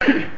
Very funny!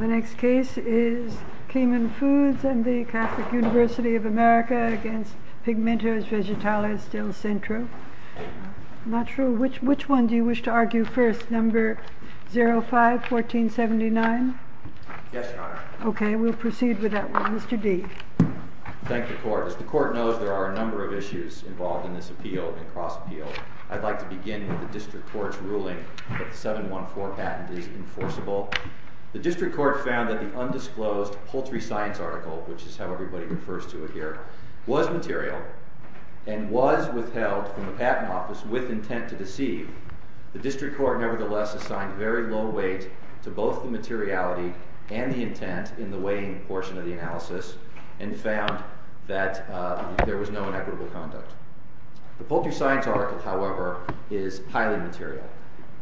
The next case is Cayman Foods and the Catholic University of America against Pigmentos Vegetales del Centro. Which one do you wish to argue first? Number 05-1479? Yes, Your Honor. Okay, we'll proceed with that one. Mr. D? Thank the Court. As the Court knows, there are a number of issues involved in this appeal and cross-appeal. I'd like to begin with the District Court's ruling that the 714 patent is enforceable. The District Court found that the undisclosed poultry science article, which is how everybody refers to it here, was material and was withheld from the Patent Office with intent to deceive. The District Court, nevertheless, assigned very low weight to both the materiality and the intent in the weighing portion of the analysis and found that there was no inequitable conduct. The poultry science article, however, is highly material.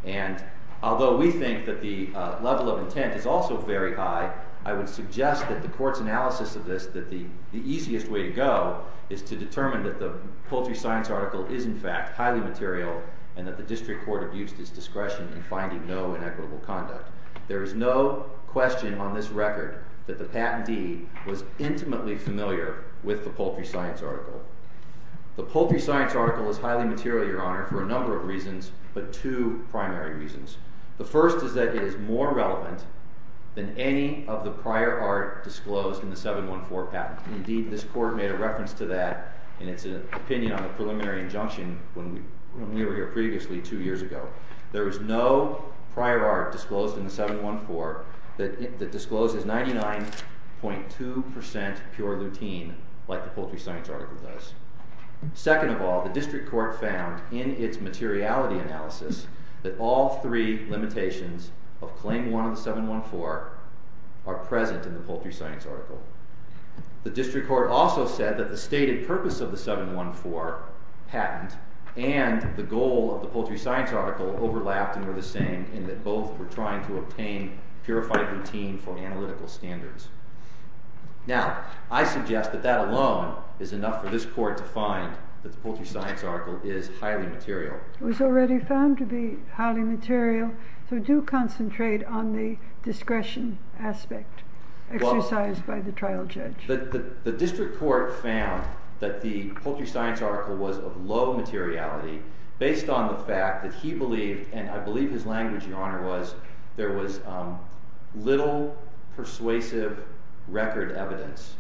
And although we think that the level of intent is also very high, I would suggest that the Court's analysis of this, that the easiest way to go is to determine that the poultry science article is, in fact, highly material and that the District Court abused its discretion in finding no inequitable conduct. There is no question on this record that the patentee was intimately familiar with the poultry science article. The poultry science article is highly material, Your Honor, for a number of reasons, but two primary reasons. The first is that it is more relevant than any of the prior art disclosed in the 714 patent. Indeed, this Court made a reference to that in its opinion on the preliminary injunction when we were here previously two years ago. There is no prior art disclosed in the 714 that discloses 99.2% pure lutein like the poultry science article does. Second of all, the District Court found in its materiality analysis that all three limitations of Claim 1 of the 714 are present in the poultry science article. The District Court also said that the stated purpose of the 714 patent and the goal of the poultry science article overlapped and were the same in that both were trying to obtain purified lutein for analytical standards. Now, I suggest that that alone is enough for this Court to find that the poultry science article is highly material. It was already found to be highly material, so do concentrate on the discretion aspect exercised by the trial judge. The District Court found that the poultry science article was of low materiality based on the fact that he believed, and I believe his language, Your Honor, was there was little persuasive record evidence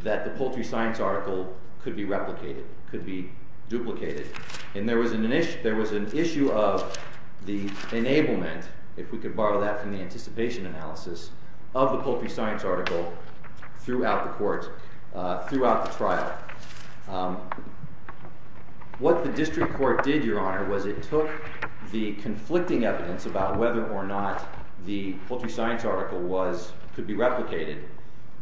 that the poultry science article could be replicated, could be duplicated. And there was an issue of the enablement, if we could borrow that from the anticipation analysis of the poultry science article throughout the trial. What the District Court did, Your Honor, was it took the conflicting evidence about whether or not the poultry science article could be replicated.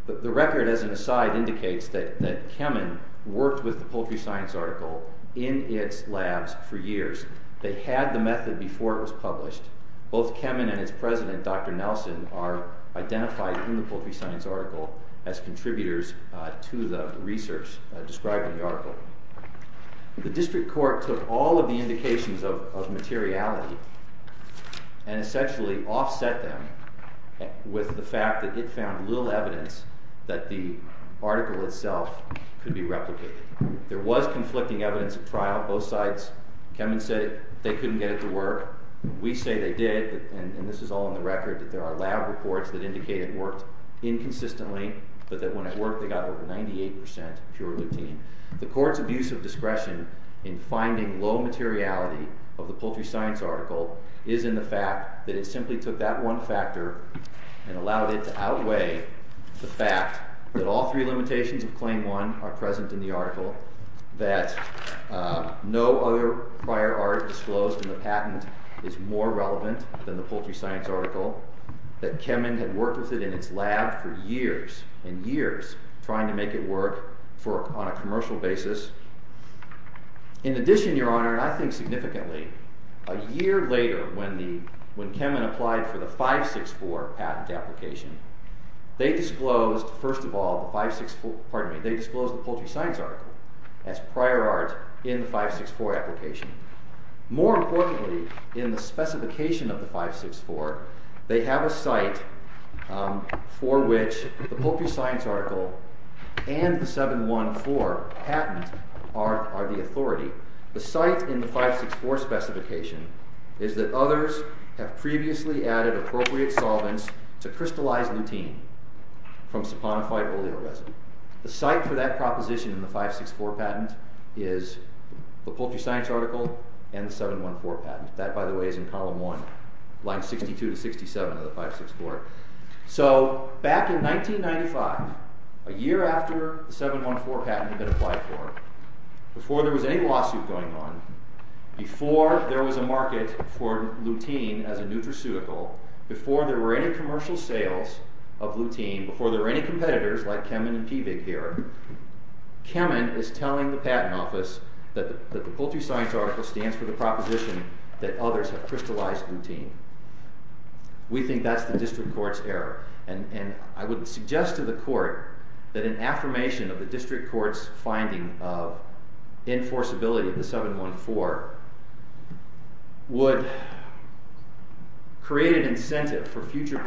The record, as an aside, indicates that Kemen worked with the poultry science article in its labs for years. They had the method before it was published. Both Kemen and its president, Dr. Nelson, are identified in the poultry science article as contributors to the research described in the article. The District Court took all of the indications of materiality and essentially offset them with the fact that it found little evidence that the article itself could be replicated. There was conflicting evidence at trial, both sides. Kemen said they couldn't get it to work. We say they did, and this is all in the record, that there are lab reports that indicate it worked inconsistently, but that when it worked, they got over 98% pure lutein. The Court's abuse of discretion in finding low materiality of the poultry science article is in the fact that it simply took that one factor and allowed it to outweigh the fact that all three limitations of Claim 1 are present in the article, that no other prior art disclosed in the patent is more relevant than the poultry science article, that Kemen had worked with it in its lab for years and years trying to make it work on a commercial basis. In addition, Your Honor, and I think significantly, a year later when Kemen applied for the 564 patent application, they disclosed, first of all, the poultry science article as prior art in the 564 application. More importantly, in the specification of the 564, they have a site for which the poultry science article and the 714 patent are the authority. The site in the 564 specification is that others have previously added appropriate solvents to crystallized lutein from saponified oleoresin. The site for that proposition in the 564 patent is the poultry science article and the 714 patent. That, by the way, is in column 1, lines 62 to 67 of the 564. So, back in 1995, a year after the 714 patent had been applied for, before there was any lawsuit going on, before there was a market for lutein as a nutraceutical, before there were any competitors like Kemen and Pevig here, Kemen is telling the patent office that the poultry science article stands for the proposition that others have crystallized lutein. We think that's the district court's error, and I would suggest to the court that an affirmation of the district court's finding of enforceability of the 714 would create an incentive for future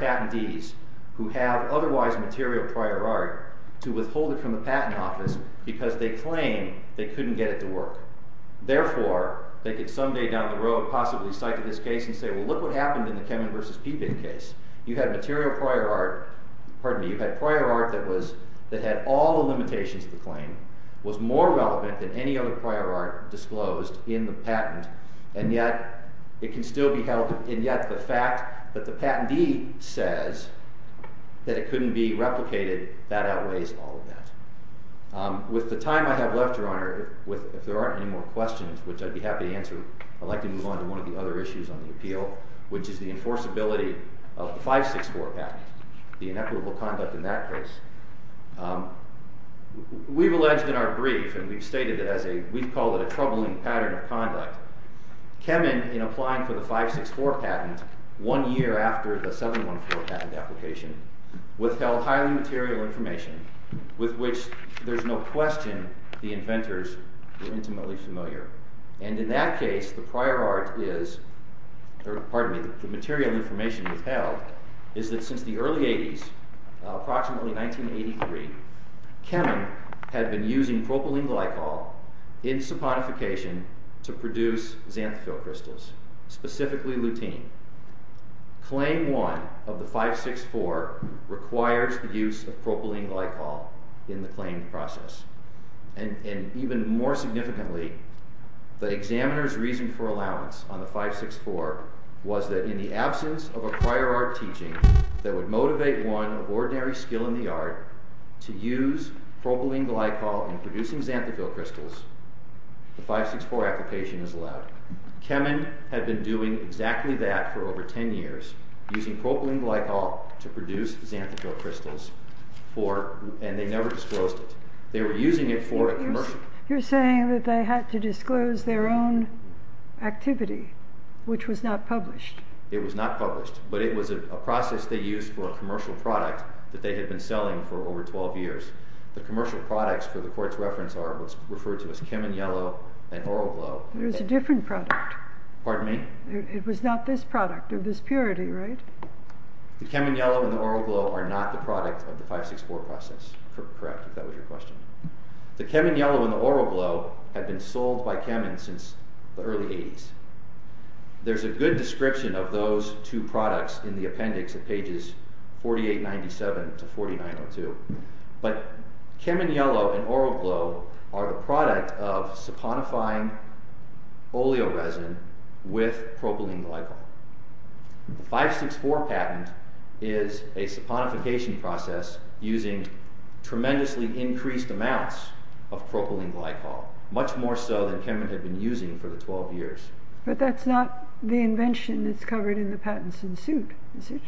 material prior art to withhold it from the patent office because they claim they couldn't get it to work. Therefore, they could someday down the road possibly cite to this case and say, well, look what happened in the Kemen versus Pevig case. You had material prior art, pardon me, you had prior art that had all the limitations of the claim, was more relevant than any other prior art disclosed in the patent, and yet it can still be held, and yet the fact that the patentee says that it couldn't be replicated, that outweighs all of that. With the time I have left, Your Honor, if there aren't any more questions, which I'd be happy to answer, I'd like to move on to one of the other issues on the appeal, which is the enforceability of the 564 patent, the inequitable conduct in that case. We've alleged in our brief, and we've stated that we call it a troubling pattern of conduct, Kemen, in applying for the 564 patent one year after the 714 patent application, withheld highly material information with which there's no question the inventors were intimately familiar. And in that case, the prior art is, pardon me, the material information withheld is that since the early 80s, approximately 1983, Kemen had been using propylene glycol in saponification to produce xanthophyll crystals, specifically lutein. Claim one of the 564 requires the use of propylene glycol in the claim process. And even more significantly, the examiner's reason for allowance on the 564 was that in the absence of a prior art teaching that would motivate one of ordinary skill in the art to use propylene glycol in producing xanthophyll crystals, the 564 application is allowed. Kemen had been doing exactly that for over 10 years, using propylene glycol to produce xanthophyll crystals, and they never disclosed it. They were using it for a commercial. You're saying that they had to disclose their own activity, which was not published. It was not published, but it was a process they used for a commercial product that they had been selling for over 12 years. The commercial products for the court's reference are what's referred to as Kemen Yellow and Oroglow. There's a different product. Pardon me? It was not this product of this purity, right? The Kemen Yellow and the Oroglow are not the product of the 564 process. Correct, if that was your question. The Kemen Yellow and the Oroglow had been sold by Kemen since the early 80s. There's a good description of those two products in the appendix at pages 4897 to 4902, but Kemen Yellow and Oroglow are the product of saponifying oleoresin with propylene glycol. The 564 patent is a saponification process using tremendously increased amounts of propylene glycol, much more so than Kemen had been using for the 12 years. But that's not the invention that's covered in the patents in suit, is it?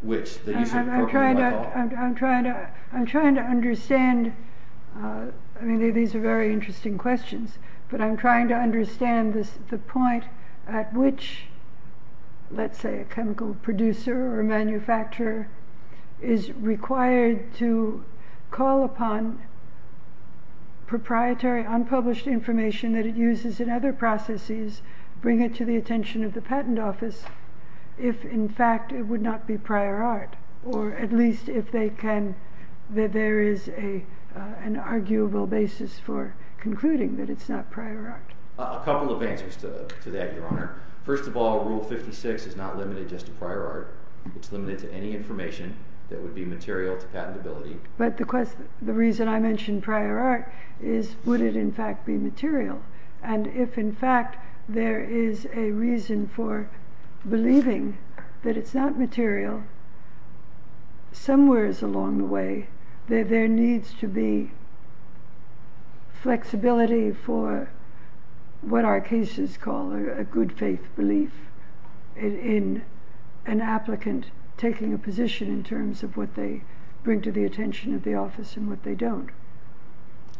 Which? The use of propylene glycol? I'm trying to understand. I mean, these are very interesting questions, but I'm trying to understand the point at which, let's say, a chemical producer or manufacturer is required to call upon proprietary unpublished information that it uses in other processes, bring it to the attention of the patent office, if in fact it would not be prior art, or at least if there is an arguable basis for concluding that it's not prior art. A couple of answers to that, Your Honor. First of all, Rule 56 is not limited just to prior art. It's limited to any information that would be material to patentability. But the reason I mentioned prior art is, would it in fact be material? And if in fact there is a reason for believing that it's not material, somewhere along the way there needs to be flexibility for what our cases call a good faith belief in an applicant taking a position in terms of what they bring to the attention of the office and what they don't.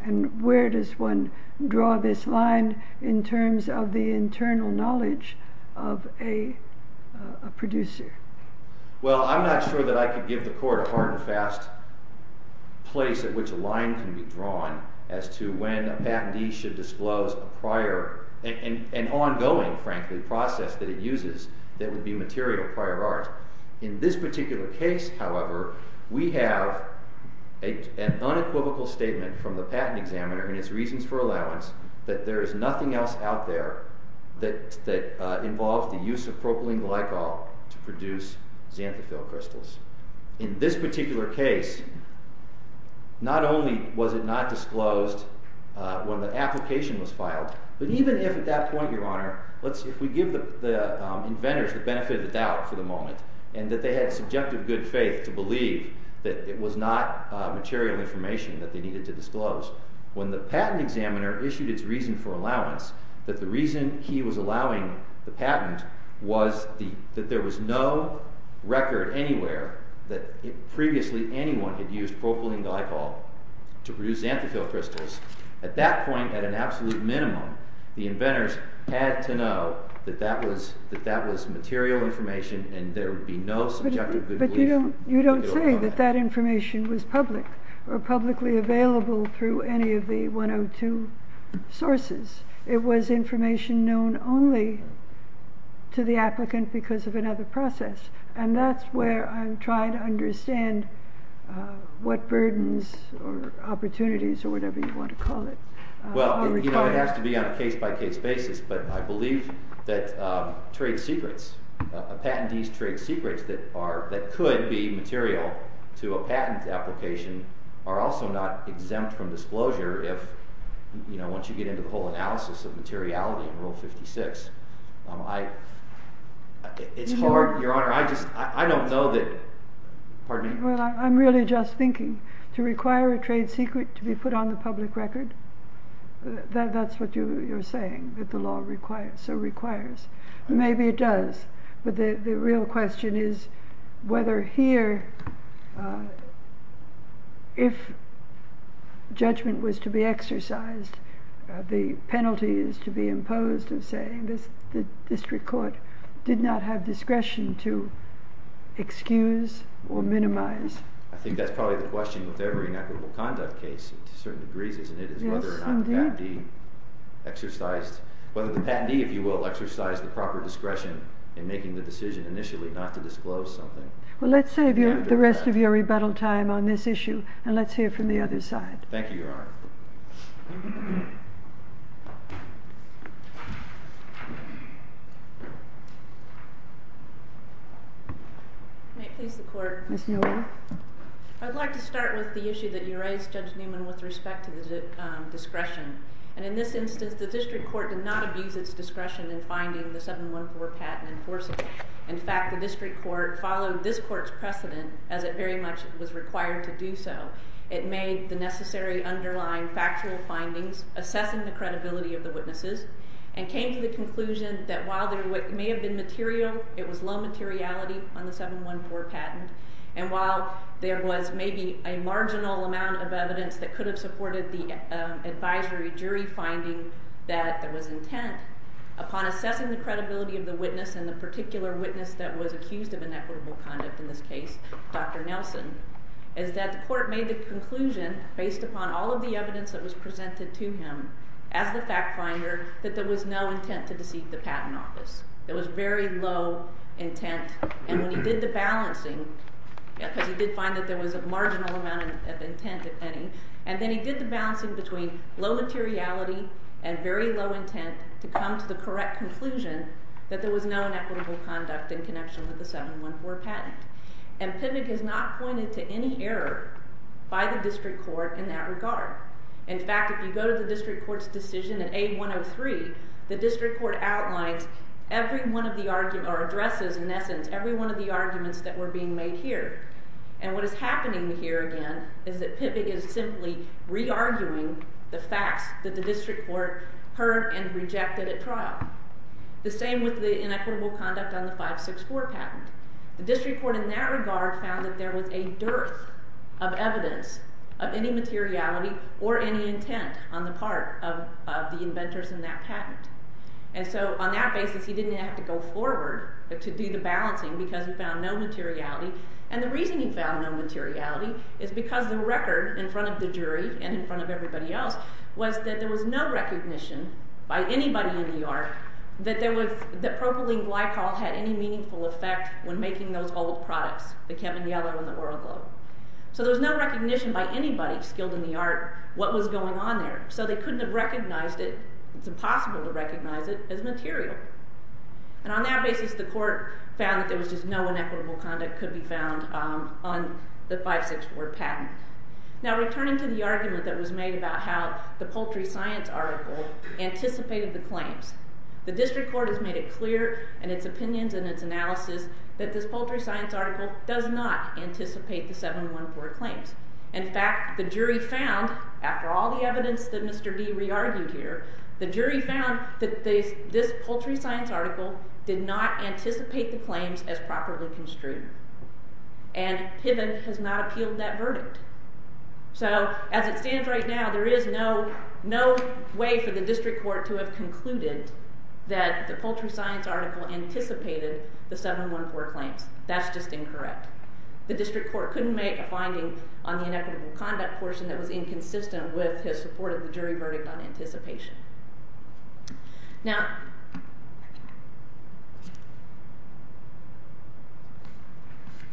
And where does one draw this line in terms of the internal knowledge of a producer? Well, I'm not sure that I could give the Court a hard and fast place at which a line can be drawn as to when a patentee should disclose an ongoing process that it uses that would be material, prior art. In this particular case, however, we have an unequivocal statement from the patent examiner and its reasons for allowance that there is nothing else out there that involves the use of propylene glycol to produce xanthophyll crystals. In this particular case, not only was it not disclosed when the application was filed, but even if at that point, Your Honor, if we give the inventors the benefit of the doubt for the moment and that they had subjective good faith to believe that it was not material information that they needed to disclose, when the patent examiner issued its reason for allowance, that the reason he was allowing the patent was that there was no record anywhere that previously anyone had used propylene glycol to produce xanthophyll crystals. At that point, at an absolute minimum, the inventors had to know that that was material information and there would be no subjective good belief. But you don't say that that information was public or publicly available through any of the 102 sources. It was information known only to the applicant because of another process. And that's where I'm trying to understand what burdens or opportunities or whatever you want to call it. Well, it has to be on a case-by-case basis, but I believe that trade secrets, a patentee's trade secrets that could be material to a patent application are also not exempt from disclosure if, you know, once you get into the whole analysis of materiality in Rule 56. It's hard, Your Honor, I just, I don't know that, pardon me. Well, I'm really just thinking, to require a trade secret to be put on the public record, that's what you're saying, that the law requires, so requires. Maybe it does, but the real question is whether here, if judgment was to be exercised, the penalty is to be imposed of saying the district court did not have discretion to excuse or minimize. I think that's probably the question with every inequitable conduct case to certain degrees, isn't it? Yes, indeed. Whether or not the patentee exercised, whether the patentee, if you will, exercised the proper discretion in making the decision initially not to disclose something. Well, let's save the rest of your rebuttal time on this issue, and let's hear from the other side. Thank you, Your Honor. May it please the Court. Yes, Your Honor. I'd like to start with the issue that you raised, Judge Newman, with respect to the discretion. And in this instance, the district court did not abuse its discretion in finding the 714 patent enforceable. In fact, the district court followed this court's precedent, as it very much was required to do so. It made the necessary underlying factual findings, assessing the credibility of the witnesses, and came to the conclusion that while there may have been material, it was low materiality on the 714 patent, and while there was maybe a marginal amount of evidence that could have supported the advisory jury finding that there was intent, upon assessing the credibility of the witness, and the particular witness that was accused of inequitable conduct in this case, Dr. Nelson, is that the court made the conclusion, based upon all of the evidence that was presented to him, as the fact finder, that there was no intent to deceive the patent office. There was very low intent. And when he did the balancing, because he did find that there was a marginal amount of intent, if any, and then he did the balancing between low materiality and very low intent to come to the correct conclusion that there was no inequitable conduct in connection with the 714 patent. And PIVBG has not pointed to any error by the district court in that regard. In fact, if you go to the district court's decision in A103, the district court outlines every one of the arguments, or addresses, in essence, every one of the arguments that were being made here. And what is happening here, again, is that PIVBG is simply re-arguing the facts that the district court heard and rejected at trial. The same with the inequitable conduct on the 564 patent. The district court in that regard found that there was a dearth of evidence of any materiality or any intent on the part of the inventors in that patent. And so on that basis, he didn't have to go forward to do the balancing because he found no materiality. And the reason he found no materiality is because the record in front of the jury and in front of everybody else was that there was no recognition by anybody in the art that propylene glycol had any meaningful effect when making those old products, the Kevin Yellow and the Oral Glow. So there was no recognition by anybody skilled in the art what was going on there. So they couldn't have recognized it. It's impossible to recognize it as material. And on that basis, the court found that there was just no inequitable conduct could be found on the 564 patent. Now returning to the argument that was made about how the poultry science article anticipated the claims, the district court has made it clear in its opinions and its analysis that this poultry science article does not anticipate the 714 claims. In fact, the jury found, after all the evidence that Mr. D. re-argued here, the jury found that this poultry science article did not anticipate the claims as properly construed. And PIVOT has not appealed that verdict. So as it stands right now, there is no way for the district court to have concluded that the poultry science article anticipated the 714 claims. That's just incorrect. The district court couldn't make a finding on the inequitable conduct portion that was inconsistent with his support of the jury verdict on anticipation. Now,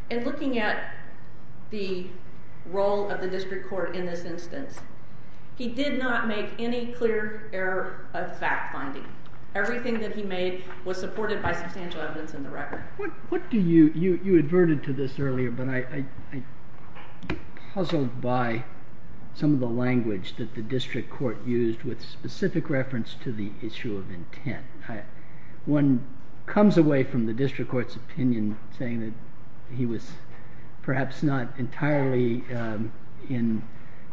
in looking at the role of the district court in this instance, he did not make any clear error of fact-finding. Everything that he made was supported by substantial evidence in the record. You adverted to this earlier, but I'm puzzled by some of the language that the district court used with specific reference to the issue of intent. One comes away from the district court's opinion saying that he was perhaps not entirely in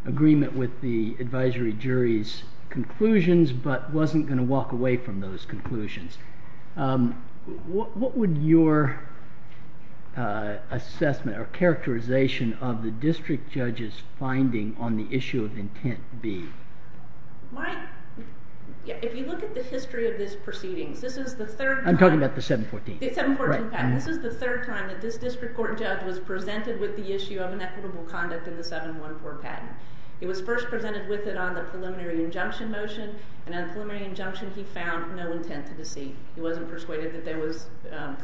agreement with the advisory jury's conclusions, but wasn't going to walk away from those conclusions. What would your assessment or characterization of the district judge's finding on the issue of intent be? If you look at the history of these proceedings, this is the third time. I'm talking about the 714. The 714 patent. This is the third time that this district court judge was presented with the issue of inequitable conduct in the 714 patent. It was first presented with it on the preliminary injunction motion, and on the preliminary injunction, he found no intent to deceive. He wasn't persuaded that there was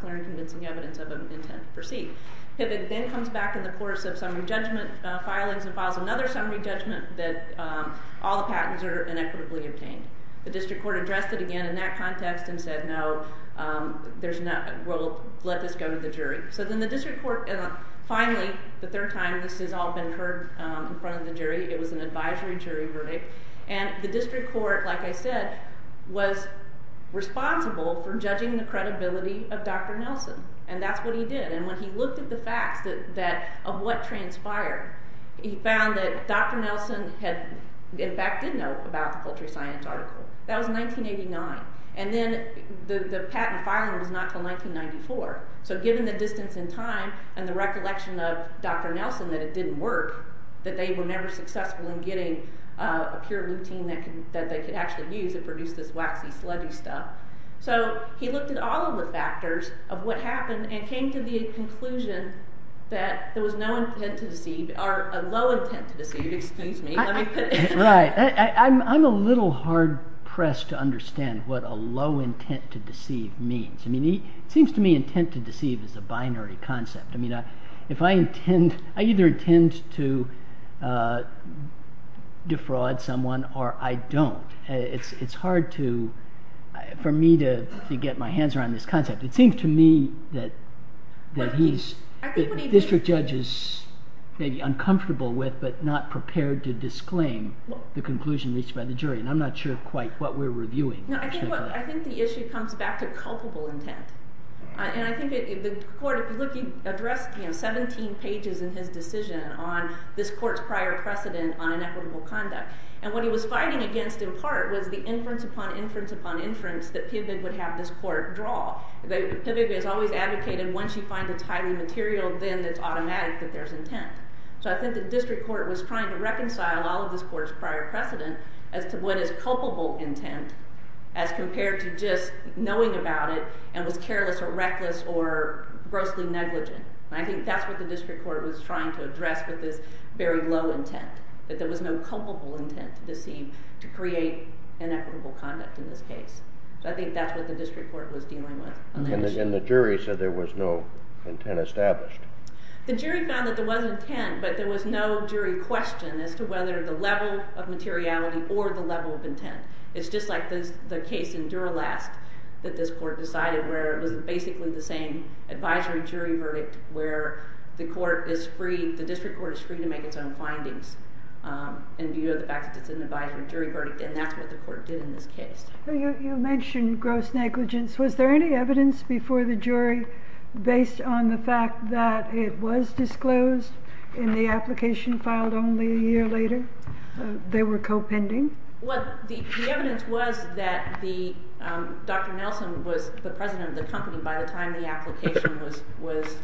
clear and convincing evidence of an intent to deceive. It then comes back in the course of summary judgment filings and files another summary judgment that all the patents are inequitably obtained. The district court addressed it again in that context and said, no, we'll let this go to the jury. So then the district court, finally, the third time this has all been heard in front of the jury. It was an advisory jury verdict. And the district court, like I said, was responsible for judging the credibility of Dr. Nelson, and that's what he did. And when he looked at the facts of what transpired, he found that Dr. Nelson in fact did know about the culture science article. That was 1989. And then the patent filing was not until 1994. So given the distance in time and the recollection of Dr. Nelson that it didn't work, that they were never successful in getting a pure routine that they could actually use and produce this waxy, sludgy stuff. So he looked at all of the factors of what happened and came to the conclusion that there was no intent to deceive, or a low intent to deceive, excuse me. Right. I'm a little hard-pressed to understand what a low intent to deceive means. I mean, it seems to me intent to deceive is a binary concept. I mean, I either intend to defraud someone or I don't. It's hard for me to get my hands around this concept. It seems to me that the district judge is maybe uncomfortable with but not prepared to disclaim the conclusion reached by the jury, and I'm not sure quite what we're reviewing. No, I think the issue comes back to culpable intent. And I think the court, if you look, he addressed 17 pages in his decision on this court's prior precedent on inequitable conduct. And what he was fighting against in part was the inference upon inference upon inference that PIVB would have this court draw. PIVB has always advocated once you find it's highly material, then it's automatic that there's intent. So I think the district court was trying to reconcile all of this court's prior precedent as to what is culpable intent as compared to just knowing about it and was careless or reckless or grossly negligent. And I think that's what the district court was trying to address with this very low intent, that there was no culpable intent to deceive to create inequitable conduct in this case. So I think that's what the district court was dealing with on that issue. And the jury said there was no intent established. The jury found that there was intent, but there was no jury question as to whether the level of materiality or the level of intent. It's just like the case in Duralast that this court decided where it was basically the same advisory jury verdict where the court is free, the district court is free to make its own findings in view of the fact that it's an advisory jury verdict and that's what the court did in this case. You mentioned gross negligence. Was there any evidence before the jury based on the fact that it was disclosed in the application filed only a year later? They were co-pending? Well, the evidence was that Dr. Nelson was the president of the company by the time the application was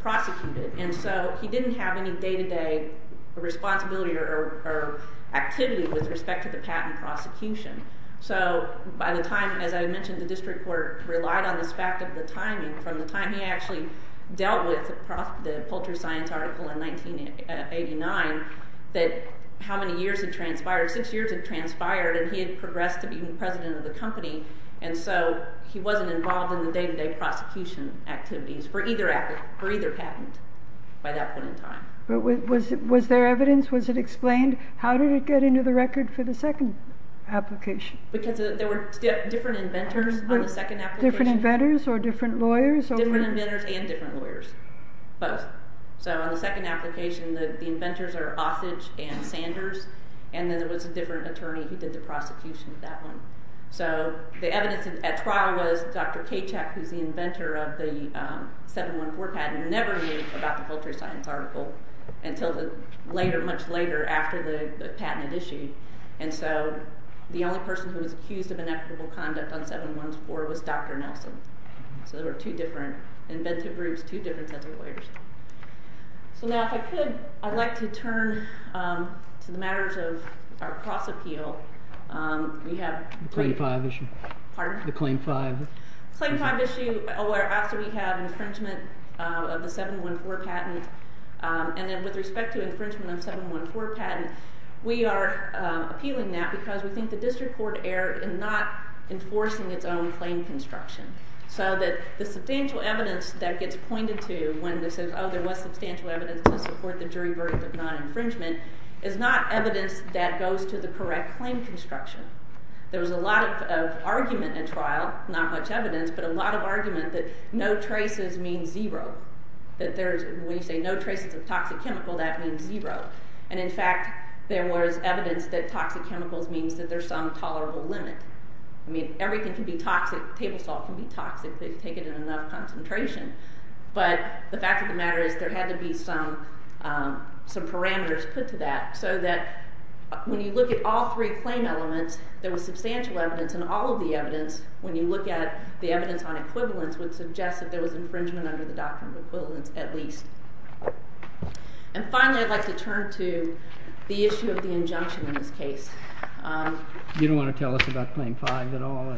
prosecuted. And so he didn't have any day-to-day responsibility or activity with respect to the patent prosecution. So by the time, as I mentioned, the district court relied on the fact of the timing from the time he actually dealt with the Poultry Science article in 1989 that how many years had transpired? Six years had transpired and he had progressed to being president of the company and so he wasn't involved in the day-to-day prosecution activities for either patent by that point in time. Was there evidence? Was it explained? How did it get into the record for the second application? Because there were different inventors on the second application. Different inventors or different lawyers? Different inventors and different lawyers, both. So on the second application, the inventors are Osage and Sanders, and then there was a different attorney who did the prosecution of that one. So the evidence at trial was Dr. Kachek, who's the inventor of the 714 patent, never knew about the Poultry Science article until much later after the patent had issued. And so the only person who was accused of inequitable conduct on 714 was Dr. Nelson. So there were two different inventive groups, two different sets of lawyers. So now if I could, I'd like to turn to the matters of our cross-appeal. The Claim 5 issue. Pardon? The Claim 5. The Claim 5 issue where after we have infringement of the 714 patent and then with respect to infringement of the 714 patent, we are appealing that because we think the district court erred in not enforcing its own claim construction. So that the substantial evidence that gets pointed to when this is, oh, there was substantial evidence to support the jury verdict of non-infringement, is not evidence that goes to the correct claim construction. There was a lot of argument at trial, not much evidence, but a lot of argument that no traces means zero, that when you say no traces of toxic chemical, that means zero. And in fact, there was evidence that toxic chemicals means that there's some tolerable limit. I mean, everything can be toxic. Table salt can be toxic if they take it in enough concentration. But the fact of the matter is there had to be some parameters put to that so that when you look at all three claim elements, there was substantial evidence and all of the evidence, when you look at the evidence on equivalence, would suggest that there was infringement under the doctrine of equivalence at least. And finally, I'd like to turn to the issue of the injunction in this case. You don't want to tell us about Claim 5 at all?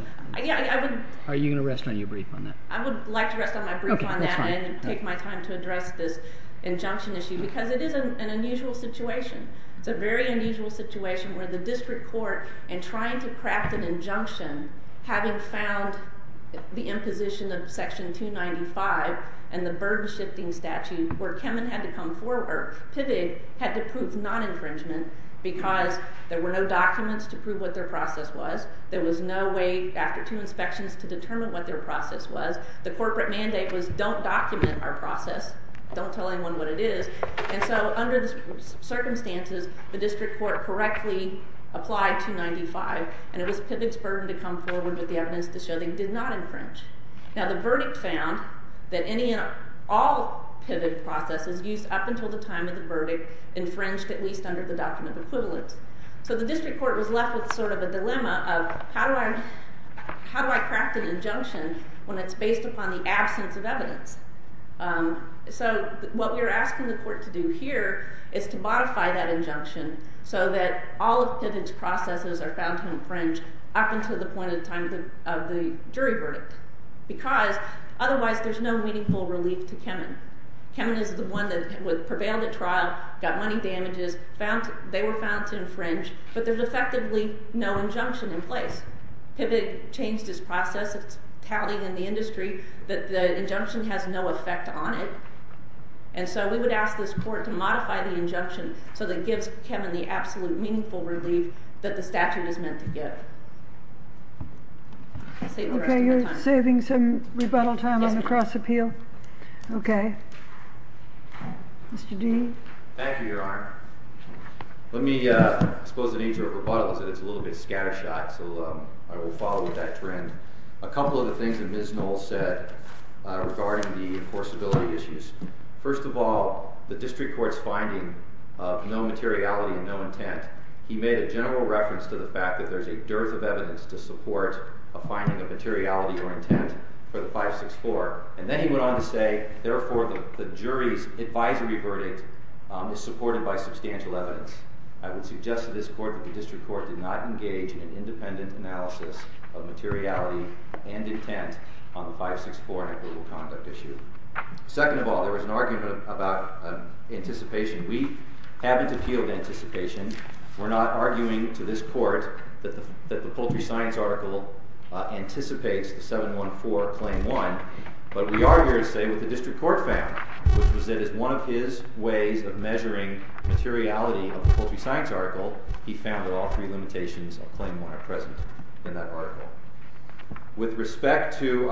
Are you going to rest on your brief on that? I would like to rest on my brief on that and take my time to address this injunction issue because it is an unusual situation. It's a very unusual situation where the district court, in trying to craft an injunction, having found the imposition of Section 295 and the burden-shifting statute where PIVG had to prove non-infringement because there were no documents to prove what their process was. There was no way after two inspections to determine what their process was. The corporate mandate was don't document our process. Don't tell anyone what it is. And so under the circumstances, the district court correctly applied 295, and it was PIVG's burden to come forward with the evidence to show they did not infringe. Now the verdict found that any and all PIVG processes used up until the time of the verdict infringed at least under the Doctrine of Equivalence. So the district court was left with sort of a dilemma of how do I craft an injunction when it's based upon the absence of evidence? So what we're asking the court to do here is to modify that injunction so that all of PIVG's processes are found to infringe up until the point in time of the jury verdict because otherwise there's no meaningful relief to Kemen. Kemen is the one that prevailed at trial, got money damages, they were found to infringe, but there's effectively no injunction in place. PIVG changed its process. It's tallied in the industry that the injunction has no effect on it. And so we would ask this court to modify the injunction so that it gives Kemen the absolute meaningful relief that the statute is meant to give. Okay, you're saving some rebuttal time on the cross-appeal? Yes, ma'am. Okay. Mr. D? Thank you, Your Honor. Let me expose the nature of rebuttals. It's a little bit scattershot, so I will follow with that trend. A couple of the things that Ms. Knowles said regarding the enforceability issues. First of all, the district court's finding of no materiality and no intent, he made a general reference to the fact that there's a dearth of evidence to support a finding of materiality or intent for the 564. And then he went on to say, therefore, the jury's advisory verdict is supported by substantial evidence. I would suggest to this court that the district court did not engage in independent analysis of materiality and intent on the 564 equitable conduct issue. Second of all, there was an argument about anticipation. We haven't appealed anticipation. We're not arguing to this court that the poultry science article anticipates the 714 Claim 1. But we are here to say what the district court found, which was that as one of his ways of measuring materiality of the poultry science article, he found that all three limitations of Claim 1 are present in that article. With respect to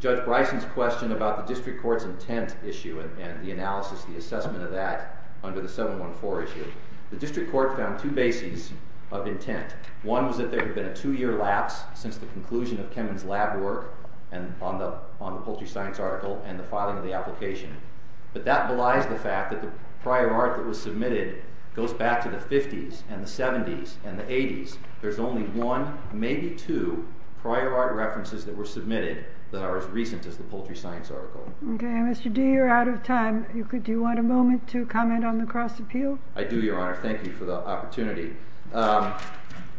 Judge Bryson's question about the district court's intent issue and the analysis, the assessment of that under the 714 issue, the district court found two bases of intent. One was that there had been a two-year lapse since the conclusion of Kemen's lab work on the poultry science article and the filing of the application. But that belies the fact that the prior art that was submitted goes back to the 50s and the 70s and the 80s. There's only one, maybe two, prior art references that were submitted that are as recent as the poultry science article. Okay. And Mr. D., you're out of time. Do you want a moment to comment on the cross-appeal? I do, Your Honor. Thank you for the opportunity.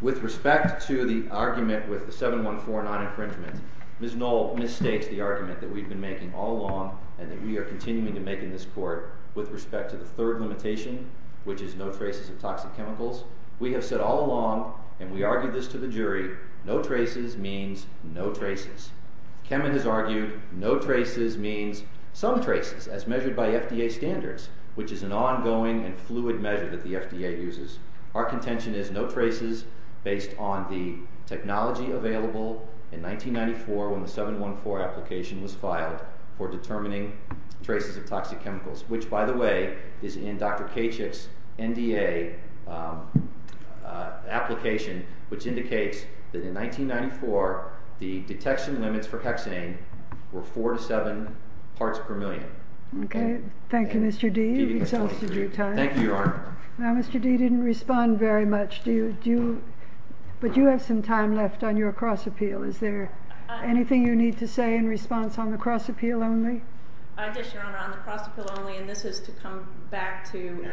With respect to the argument with the 714 non-infringement, Ms. Knoll misstates the argument that we've been making all along and that we are continuing to make in this court with respect to the third limitation, which is no traces of toxic chemicals. We have said all along, and we argued this to the jury, no traces means no traces. Kemen has argued no traces means some traces, as measured by FDA standards, which is an ongoing and fluid measure that the FDA uses. Our contention is no traces based on the technology available in 1994 when the 714 application was filed for determining traces of toxic chemicals, which, by the way, is in Dr. Kachik's NDA application, which indicates that in 1994 the detection limits for hexane were four to seven parts per million. Okay. Thank you, Mr. D. You've exhausted your time. Thank you, Your Honor. Now, Mr. D. didn't respond very much, but you have some time left on your cross-appeal. Is there anything you need to say in response on the cross-appeal only? Yes, Your Honor, on the cross-appeal only, and this is to come back to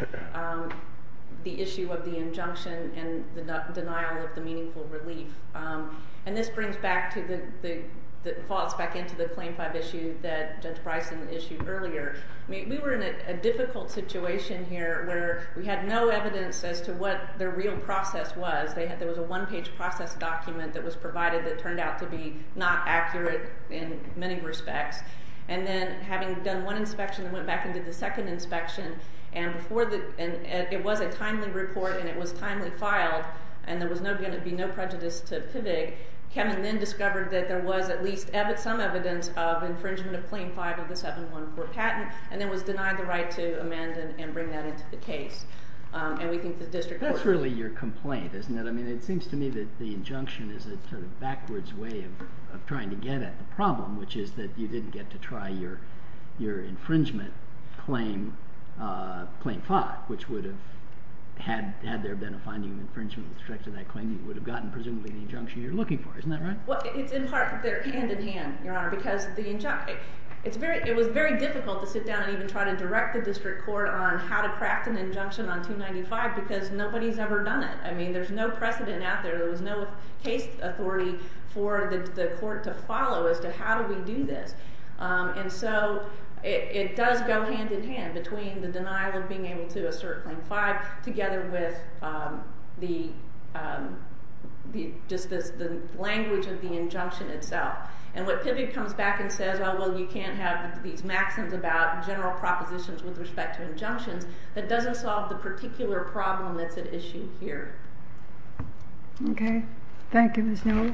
the issue of the injunction and the denial of the meaningful relief. And this brings back the thoughts back into the Claim 5 issue that Judge Bryson issued earlier. We were in a difficult situation here where we had no evidence as to what the real process was. There was a one-page process document that was provided that turned out to be not accurate in many respects. And then having done one inspection and went back and did the second inspection, and it was a timely report and it was timely filed and there was going to be no prejudice to PIVIG, Kevin then discovered that there was at least some evidence of infringement of Claim 5 of the 714 patent and then was denied the right to amend and bring that into the case. And we think the district court should— That's really your complaint, isn't it? I mean, it seems to me that the injunction is a sort of backwards way of trying to get at the problem, which is that you didn't get to try your infringement claim, Claim 5, which would have, had there been a finding of infringement with respect to that claim, you would have gotten presumably the injunction you're looking for. Isn't that right? Well, it's in part—they're hand-in-hand, Your Honor, because the injunction— it was very difficult to sit down and even try to direct the district court on how to craft an injunction on 295 because nobody's ever done it. I mean, there's no precedent out there. There was no case authority for the court to follow as to how do we do this. And so it does go hand-in-hand between the denial of being able to assert Claim 5 together with just the language of the injunction itself. And what PIVOT comes back and says, oh, well, you can't have these maxims about general propositions with respect to injunctions, that doesn't solve the particular problem that's at issue here. Okay. Thank you, Ms. Newell.